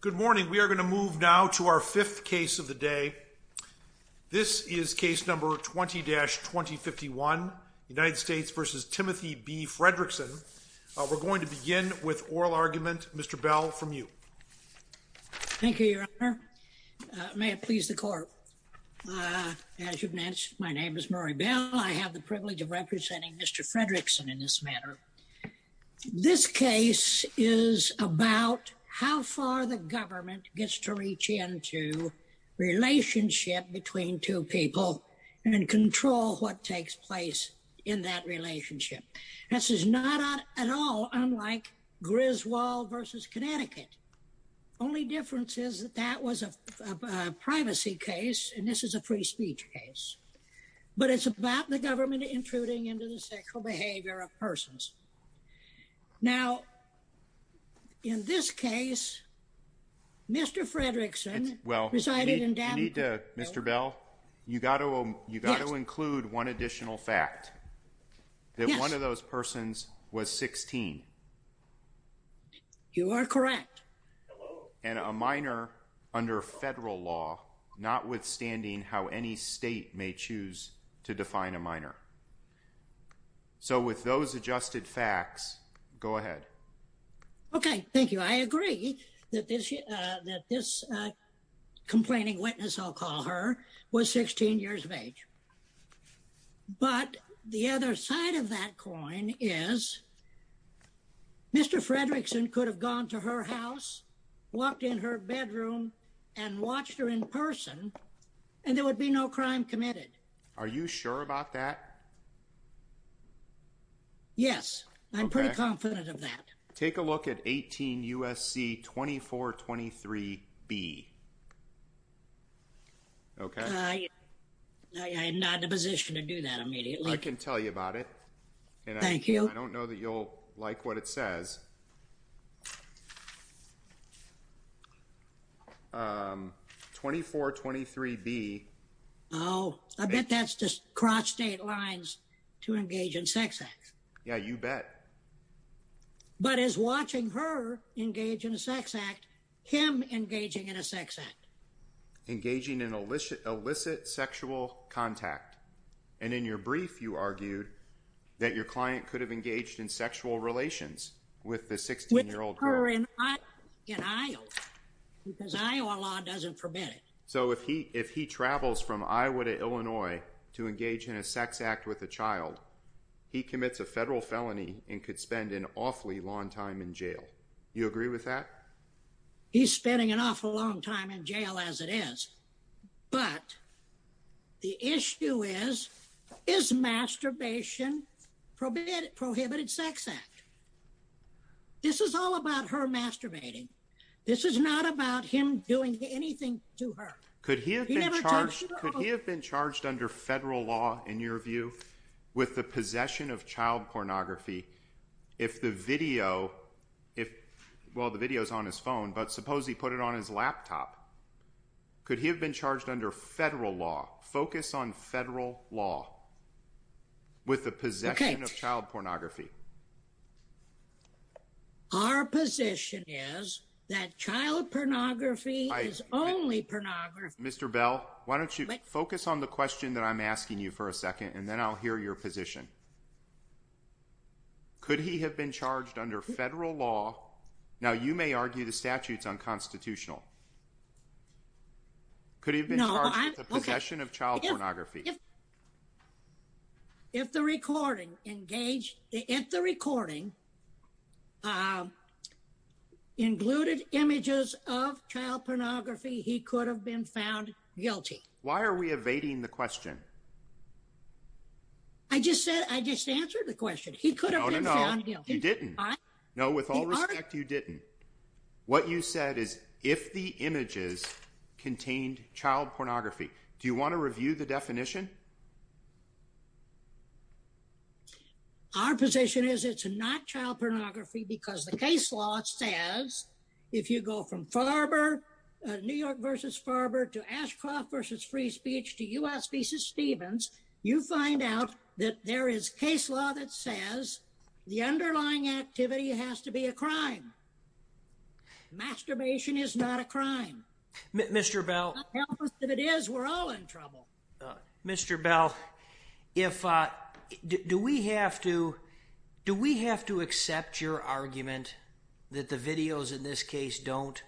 Good morning. We are going to move now to our fifth case of the day. This is case number 20-2051, United States v. Timothy B. Fredrickson. We're going to begin with oral argument, Mr. Bell, from you. Thank you, Your Honor. May it please the court. As you've mentioned, my name is Murray Bell. I have the privilege of representing Mr. Fredrickson in this matter. This case is about how far the government gets to reach into relationship between two people and control what takes place in that relationship. This is not at all unlike Griswold v. Connecticut. Only difference is that that was a privacy case and this is a free speech case. But it's about the government intruding into the sexual behavior of persons. Now, in this case, Mr. Fredrickson resided in Danville. Well, you need to, Mr. Bell, you got to include one additional fact. Yes. That one of those persons was 16. You are correct. And a minor under federal law, notwithstanding how any state may choose to define a minor. So with those adjusted facts, go ahead. Okay. Thank you. I agree that this complaining witness, I'll call her, was 16 years of age. But the other side of that coin is Mr. Fredrickson could have gone to her house, walked in her bedroom and watched her in person and there would be no crime committed. Are you sure about that? Yes, I'm pretty confident of that. Take a look at 18 U.S.C. 2423 B. Okay. I am not in a position to do that immediately. I can tell you about it. Thank you. I don't know that you'll like what it says. 2423 B. Oh, I bet that's just cross state lines to engage in sex acts. Yeah, you bet. But is watching her engage in a sex act, him engaging in a sex act. Engaging in illicit sexual contact. And in your brief, you argued that your client could have engaged in sexual relations with the 16 year old girl. With her in Iowa. Because Iowa law doesn't forbid it. So if he travels from Iowa to Illinois to engage in a sex act with a child, he commits a federal felony and could spend an awfully long time in jail. You agree with that? He's spending an awful long time in jail as it is. But the issue is, is masturbation prohibited sex act? This is all about her masturbating. This is not about him doing anything to her. Could he have been charged under federal law in your view with the possession of child pornography? If the video if, well, the video is on his phone, but suppose he put it on his laptop. Could he have been charged under federal law? Focus on federal law. With the possession of child pornography. Our position is that child pornography is only pornography. Mr. Bell, why don't you focus on the question that I'm asking you for a second, and then I'll hear your position. Could he have been charged under federal law? Now, you may argue the statute's unconstitutional. Could he have been charged with the possession of child pornography? If the recording engaged, if the recording included images of child pornography, he could have been found guilty. Why are we evading the question? I just said, I just answered the question. He could have been found guilty. No, you didn't. No, with all respect, you didn't. What you said is if the images contained child pornography. Do you want to review the definition? Our position is it's not child pornography because the case law says if you go from Farber, New York versus Farber to Ashcroft versus free speech to U.S. v. Stevens. You find out that there is case law that says the underlying activity has to be a crime. Masturbation is not a crime. Mr. Bell, if it is, we're all in trouble. Mr. Bell, if do we have to do we have to accept your argument that the videos in this case don't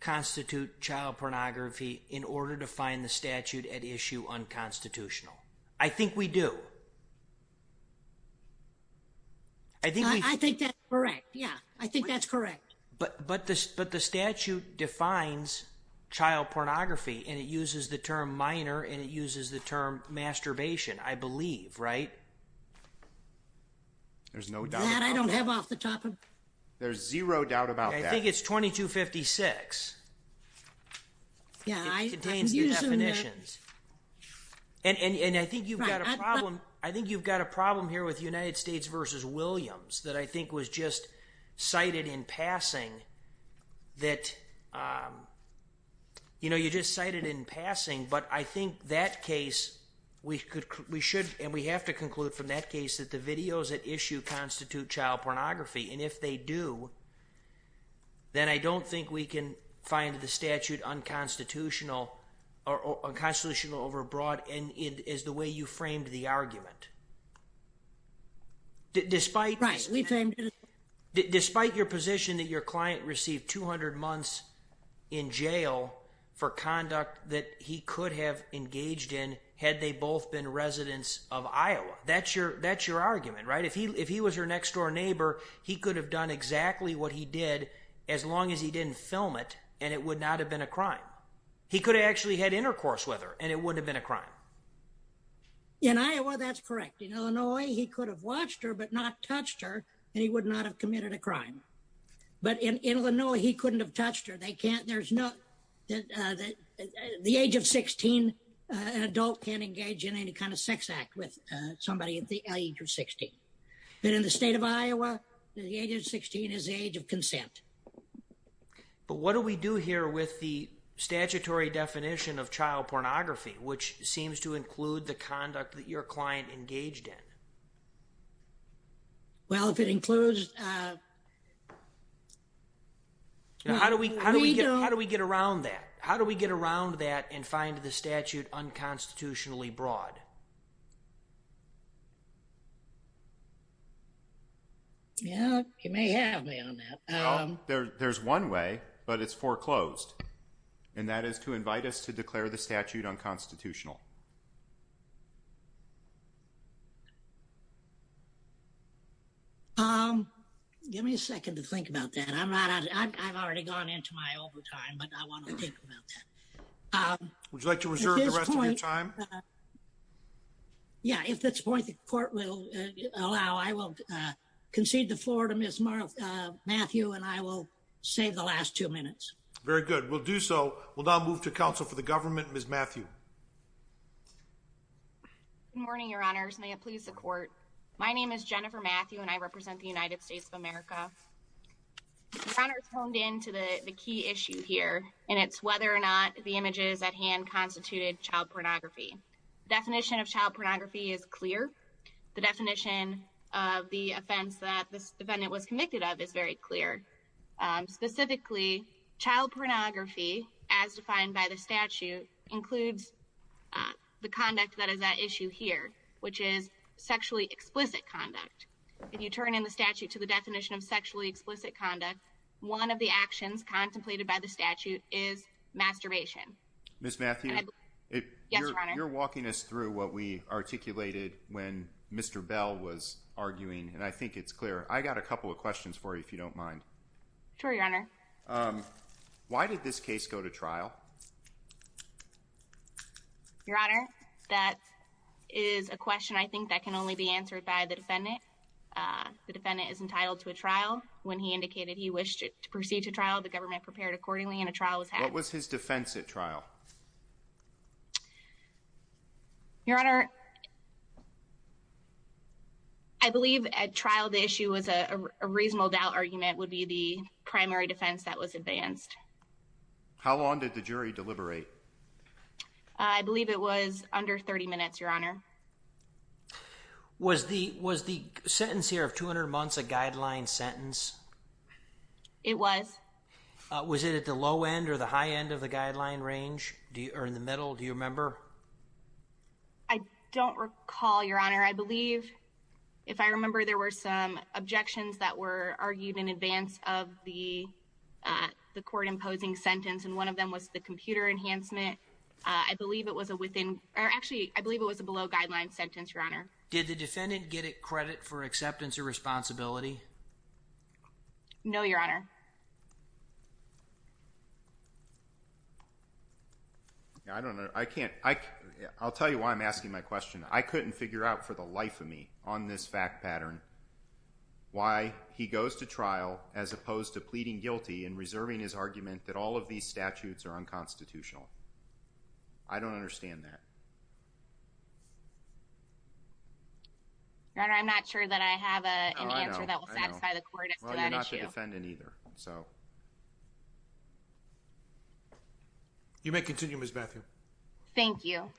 constitute child pornography in order to find the statute at issue unconstitutional? I think we do. I think I think that's correct. Yeah, I think that's correct. But the statute defines child pornography and it uses the term minor and it uses the term masturbation, I believe, right? There's no doubt about that. I don't have off the top of my head. There's zero doubt about that. I think it's 2256. It contains the definitions. And I think you've got a problem. I think you've got a problem here with United States versus Williams that I think was just cited in passing that, you know, you just cited in passing. But I think that case we could we should and we have to conclude from that case that the videos at issue constitute child pornography. And if they do, then I don't think we can find the statute unconstitutional or unconstitutional over broad. And it is the way you framed the argument. Despite right, we framed it despite your position that your client received 200 months in jail for conduct that he could have engaged in had they both been residents of Iowa. That's your that's your argument, right? If he if he was your next door neighbor, he could have done exactly what he did as long as he didn't film it. And it would not have been a crime. He could actually had intercourse with her and it would have been a crime. In Iowa, that's correct. In Illinois, he could have watched her but not touched her and he would not have committed a crime. But in Illinois, he couldn't have touched her. They can't. There's no that the age of 16, an adult can engage in any kind of sex act with somebody at the age of 60. And in the state of Iowa, the age of 16 is the age of consent. But what do we do here with the statutory definition of child pornography, which seems to include the conduct that your client engaged in? Well, if it includes. How do we how do we get around that? How do we get around that and find the statute unconstitutionally broad? Yeah, you may have me on that. There's one way, but it's foreclosed. And that is to invite us to declare the statute unconstitutional. Give me a second to think about that. I'm not I've already gone into my overtime, but I want to think about that. Would you like to reserve the rest of your time? Yeah, if that's the point the court will allow, I will concede the floor to Miss Matthew and I will save the last two minutes. Very good. We'll do so. We'll now move to counsel for the government. Miss Matthew. Good morning, Your Honors. May it please the court. My name is Jennifer Matthew and I represent the United States of America. Your Honors honed into the key issue here, and it's whether or not the images at hand constituted child pornography. Definition of child pornography is clear. The definition of the offense that this defendant was convicted of is very clear. Specifically, child pornography, as defined by the statute, includes the conduct that is at issue here, which is sexually explicit conduct. If you turn in the statute to the definition of sexually explicit conduct, one of the actions contemplated by the statute is masturbation. Miss Matthew, you're walking us through what we articulated when Mr. Bell was arguing. And I think it's clear. I got a couple of questions for you, if you don't mind. Sure, Your Honor. Why did this case go to trial? Your Honor, that is a question I think that can only be answered by the defendant. The defendant is entitled to a trial. When he indicated he wished to proceed to trial, the government prepared accordingly and a trial was had. What was his defense at trial? Your Honor, I believe at trial the issue was a reasonable doubt argument would be the primary defense that was advanced. How long did the jury deliberate? I believe it was under 30 minutes, Your Honor. Was the sentence here of 200 months a guideline sentence? It was. Was it at the low end or the high end of the guideline range, or in the middle, do you remember? I don't recall, Your Honor. I believe, if I remember, there were some objections that were argued in advance of the court-imposing sentence, and one of them was the computer enhancement. I believe it was a below-guideline sentence, Your Honor. Did the defendant get credit for acceptance or responsibility? No, Your Honor. I don't know. I can't. I'll tell you why I'm asking my question. I couldn't figure out for the life of me on this fact pattern why he goes to trial as opposed to pleading guilty and reserving his argument that all of these statutes are unconstitutional. I don't understand that. Your Honor, I'm not sure that I have an answer that will satisfy the court as to that issue. You may continue, Ms. Matthew. Thank you.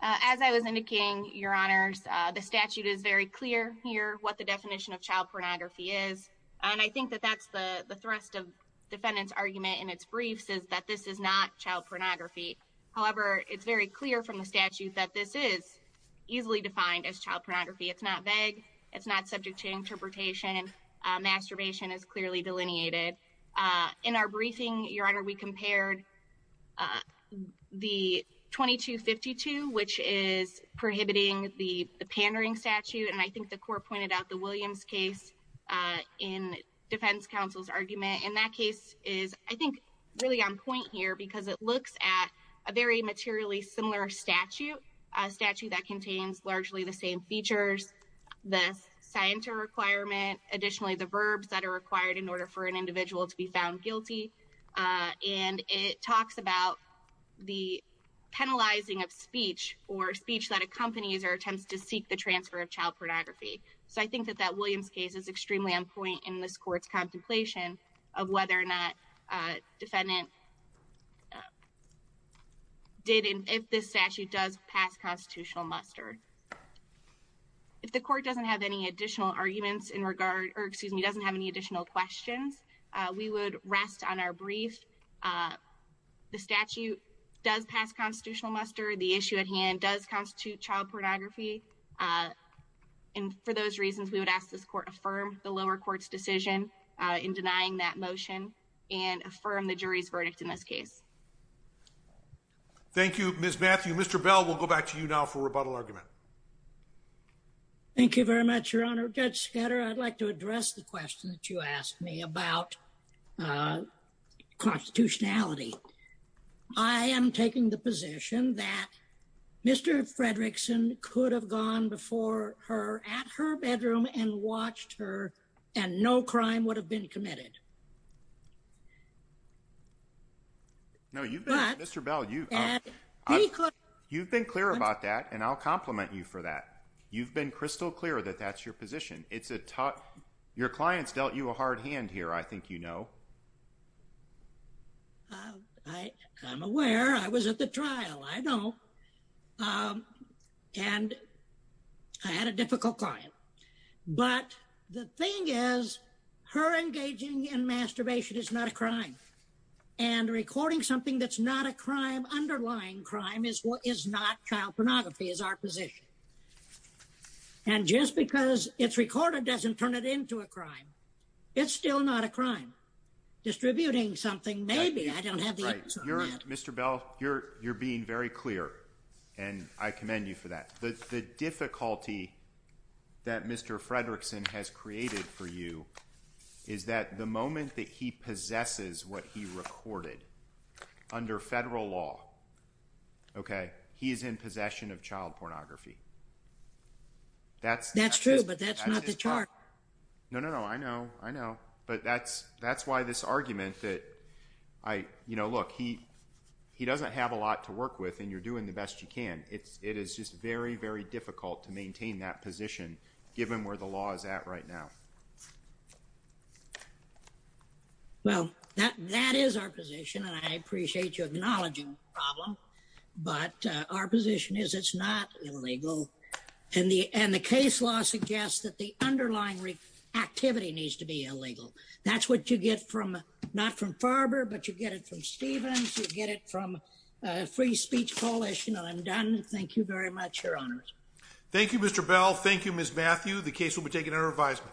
As I was indicating, Your Honors, the statute is very clear here what the definition of child pornography is, and I think that that's the thrust of the defendant's argument in its briefs is that this is not child pornography. However, it's very clear from the statute that this is easily defined as child pornography. It's not vague. It's not subject to interpretation. Masturbation is clearly delineated. In our briefing, Your Honor, we compared the 2252, which is prohibiting the pandering statute, and I think the court pointed out the Williams case in defense counsel's argument. And that case is, I think, really on point here because it looks at a very materially similar statute, a statute that contains largely the same features, the scienter requirement. Additionally, the verbs that are required in order for an individual to be found guilty, and it talks about the penalizing of speech or speech that accompanies or attempts to seek the transfer of child pornography. So I think that that Williams case is extremely on point in this court's contemplation of whether or not defendant did, if this statute does pass constitutional muster. If the court doesn't have any additional arguments in regard, or excuse me, doesn't have any additional questions, we would rest on our brief. The statute does pass constitutional muster. The issue at hand does constitute child pornography. And for those reasons, we would ask this court affirm the lower court's decision in denying that motion and affirm the jury's verdict in this case. Thank you, Miss Matthew. Mr. Bell, we'll go back to you now for rebuttal argument. Thank you very much, Your Honor. Judge Schatter, I'd like to address the question that you asked me about constitutionality. I am taking the position that Mr. Fredrickson could have gone before her at her bedroom and watched her and no crime would have been committed. Mr. Bell, you've been clear about that, and I'll compliment you for that. You've been crystal clear that that's your position. Your clients dealt you a hard hand here, I think you know. I'm aware. I was at the trial. I know. And I had a difficult client. But the thing is, her engaging in masturbation is not a crime. And recording something that's not a crime, underlying crime, is not child pornography, is our position. And just because it's recorded doesn't turn it into a crime. It's still not a crime. Distributing something, maybe. I don't have the answer on that. Mr. Bell, you're being very clear, and I commend you for that. The difficulty that Mr. Fredrickson has created for you is that the moment that he possesses what he recorded under federal law, he is in possession of child pornography. That's true, but that's not the charge. No, no, no. I know. I know. But that's why this argument that, you know, look, he doesn't have a lot to work with, and you're doing the best you can. It is just very, very difficult to maintain that position, given where the law is at right now. Well, that is our position, and I appreciate you acknowledging the problem. But our position is it's not illegal, and the case law suggests that the underlying activity needs to be illegal. That's what you get from, not from Farber, but you get it from Stevens, you get it from Free Speech Coalition. I'm done. Thank you very much, Your Honors. Thank you, Mr. Bell. Thank you, Ms. Matthew. The case will be taken under revision.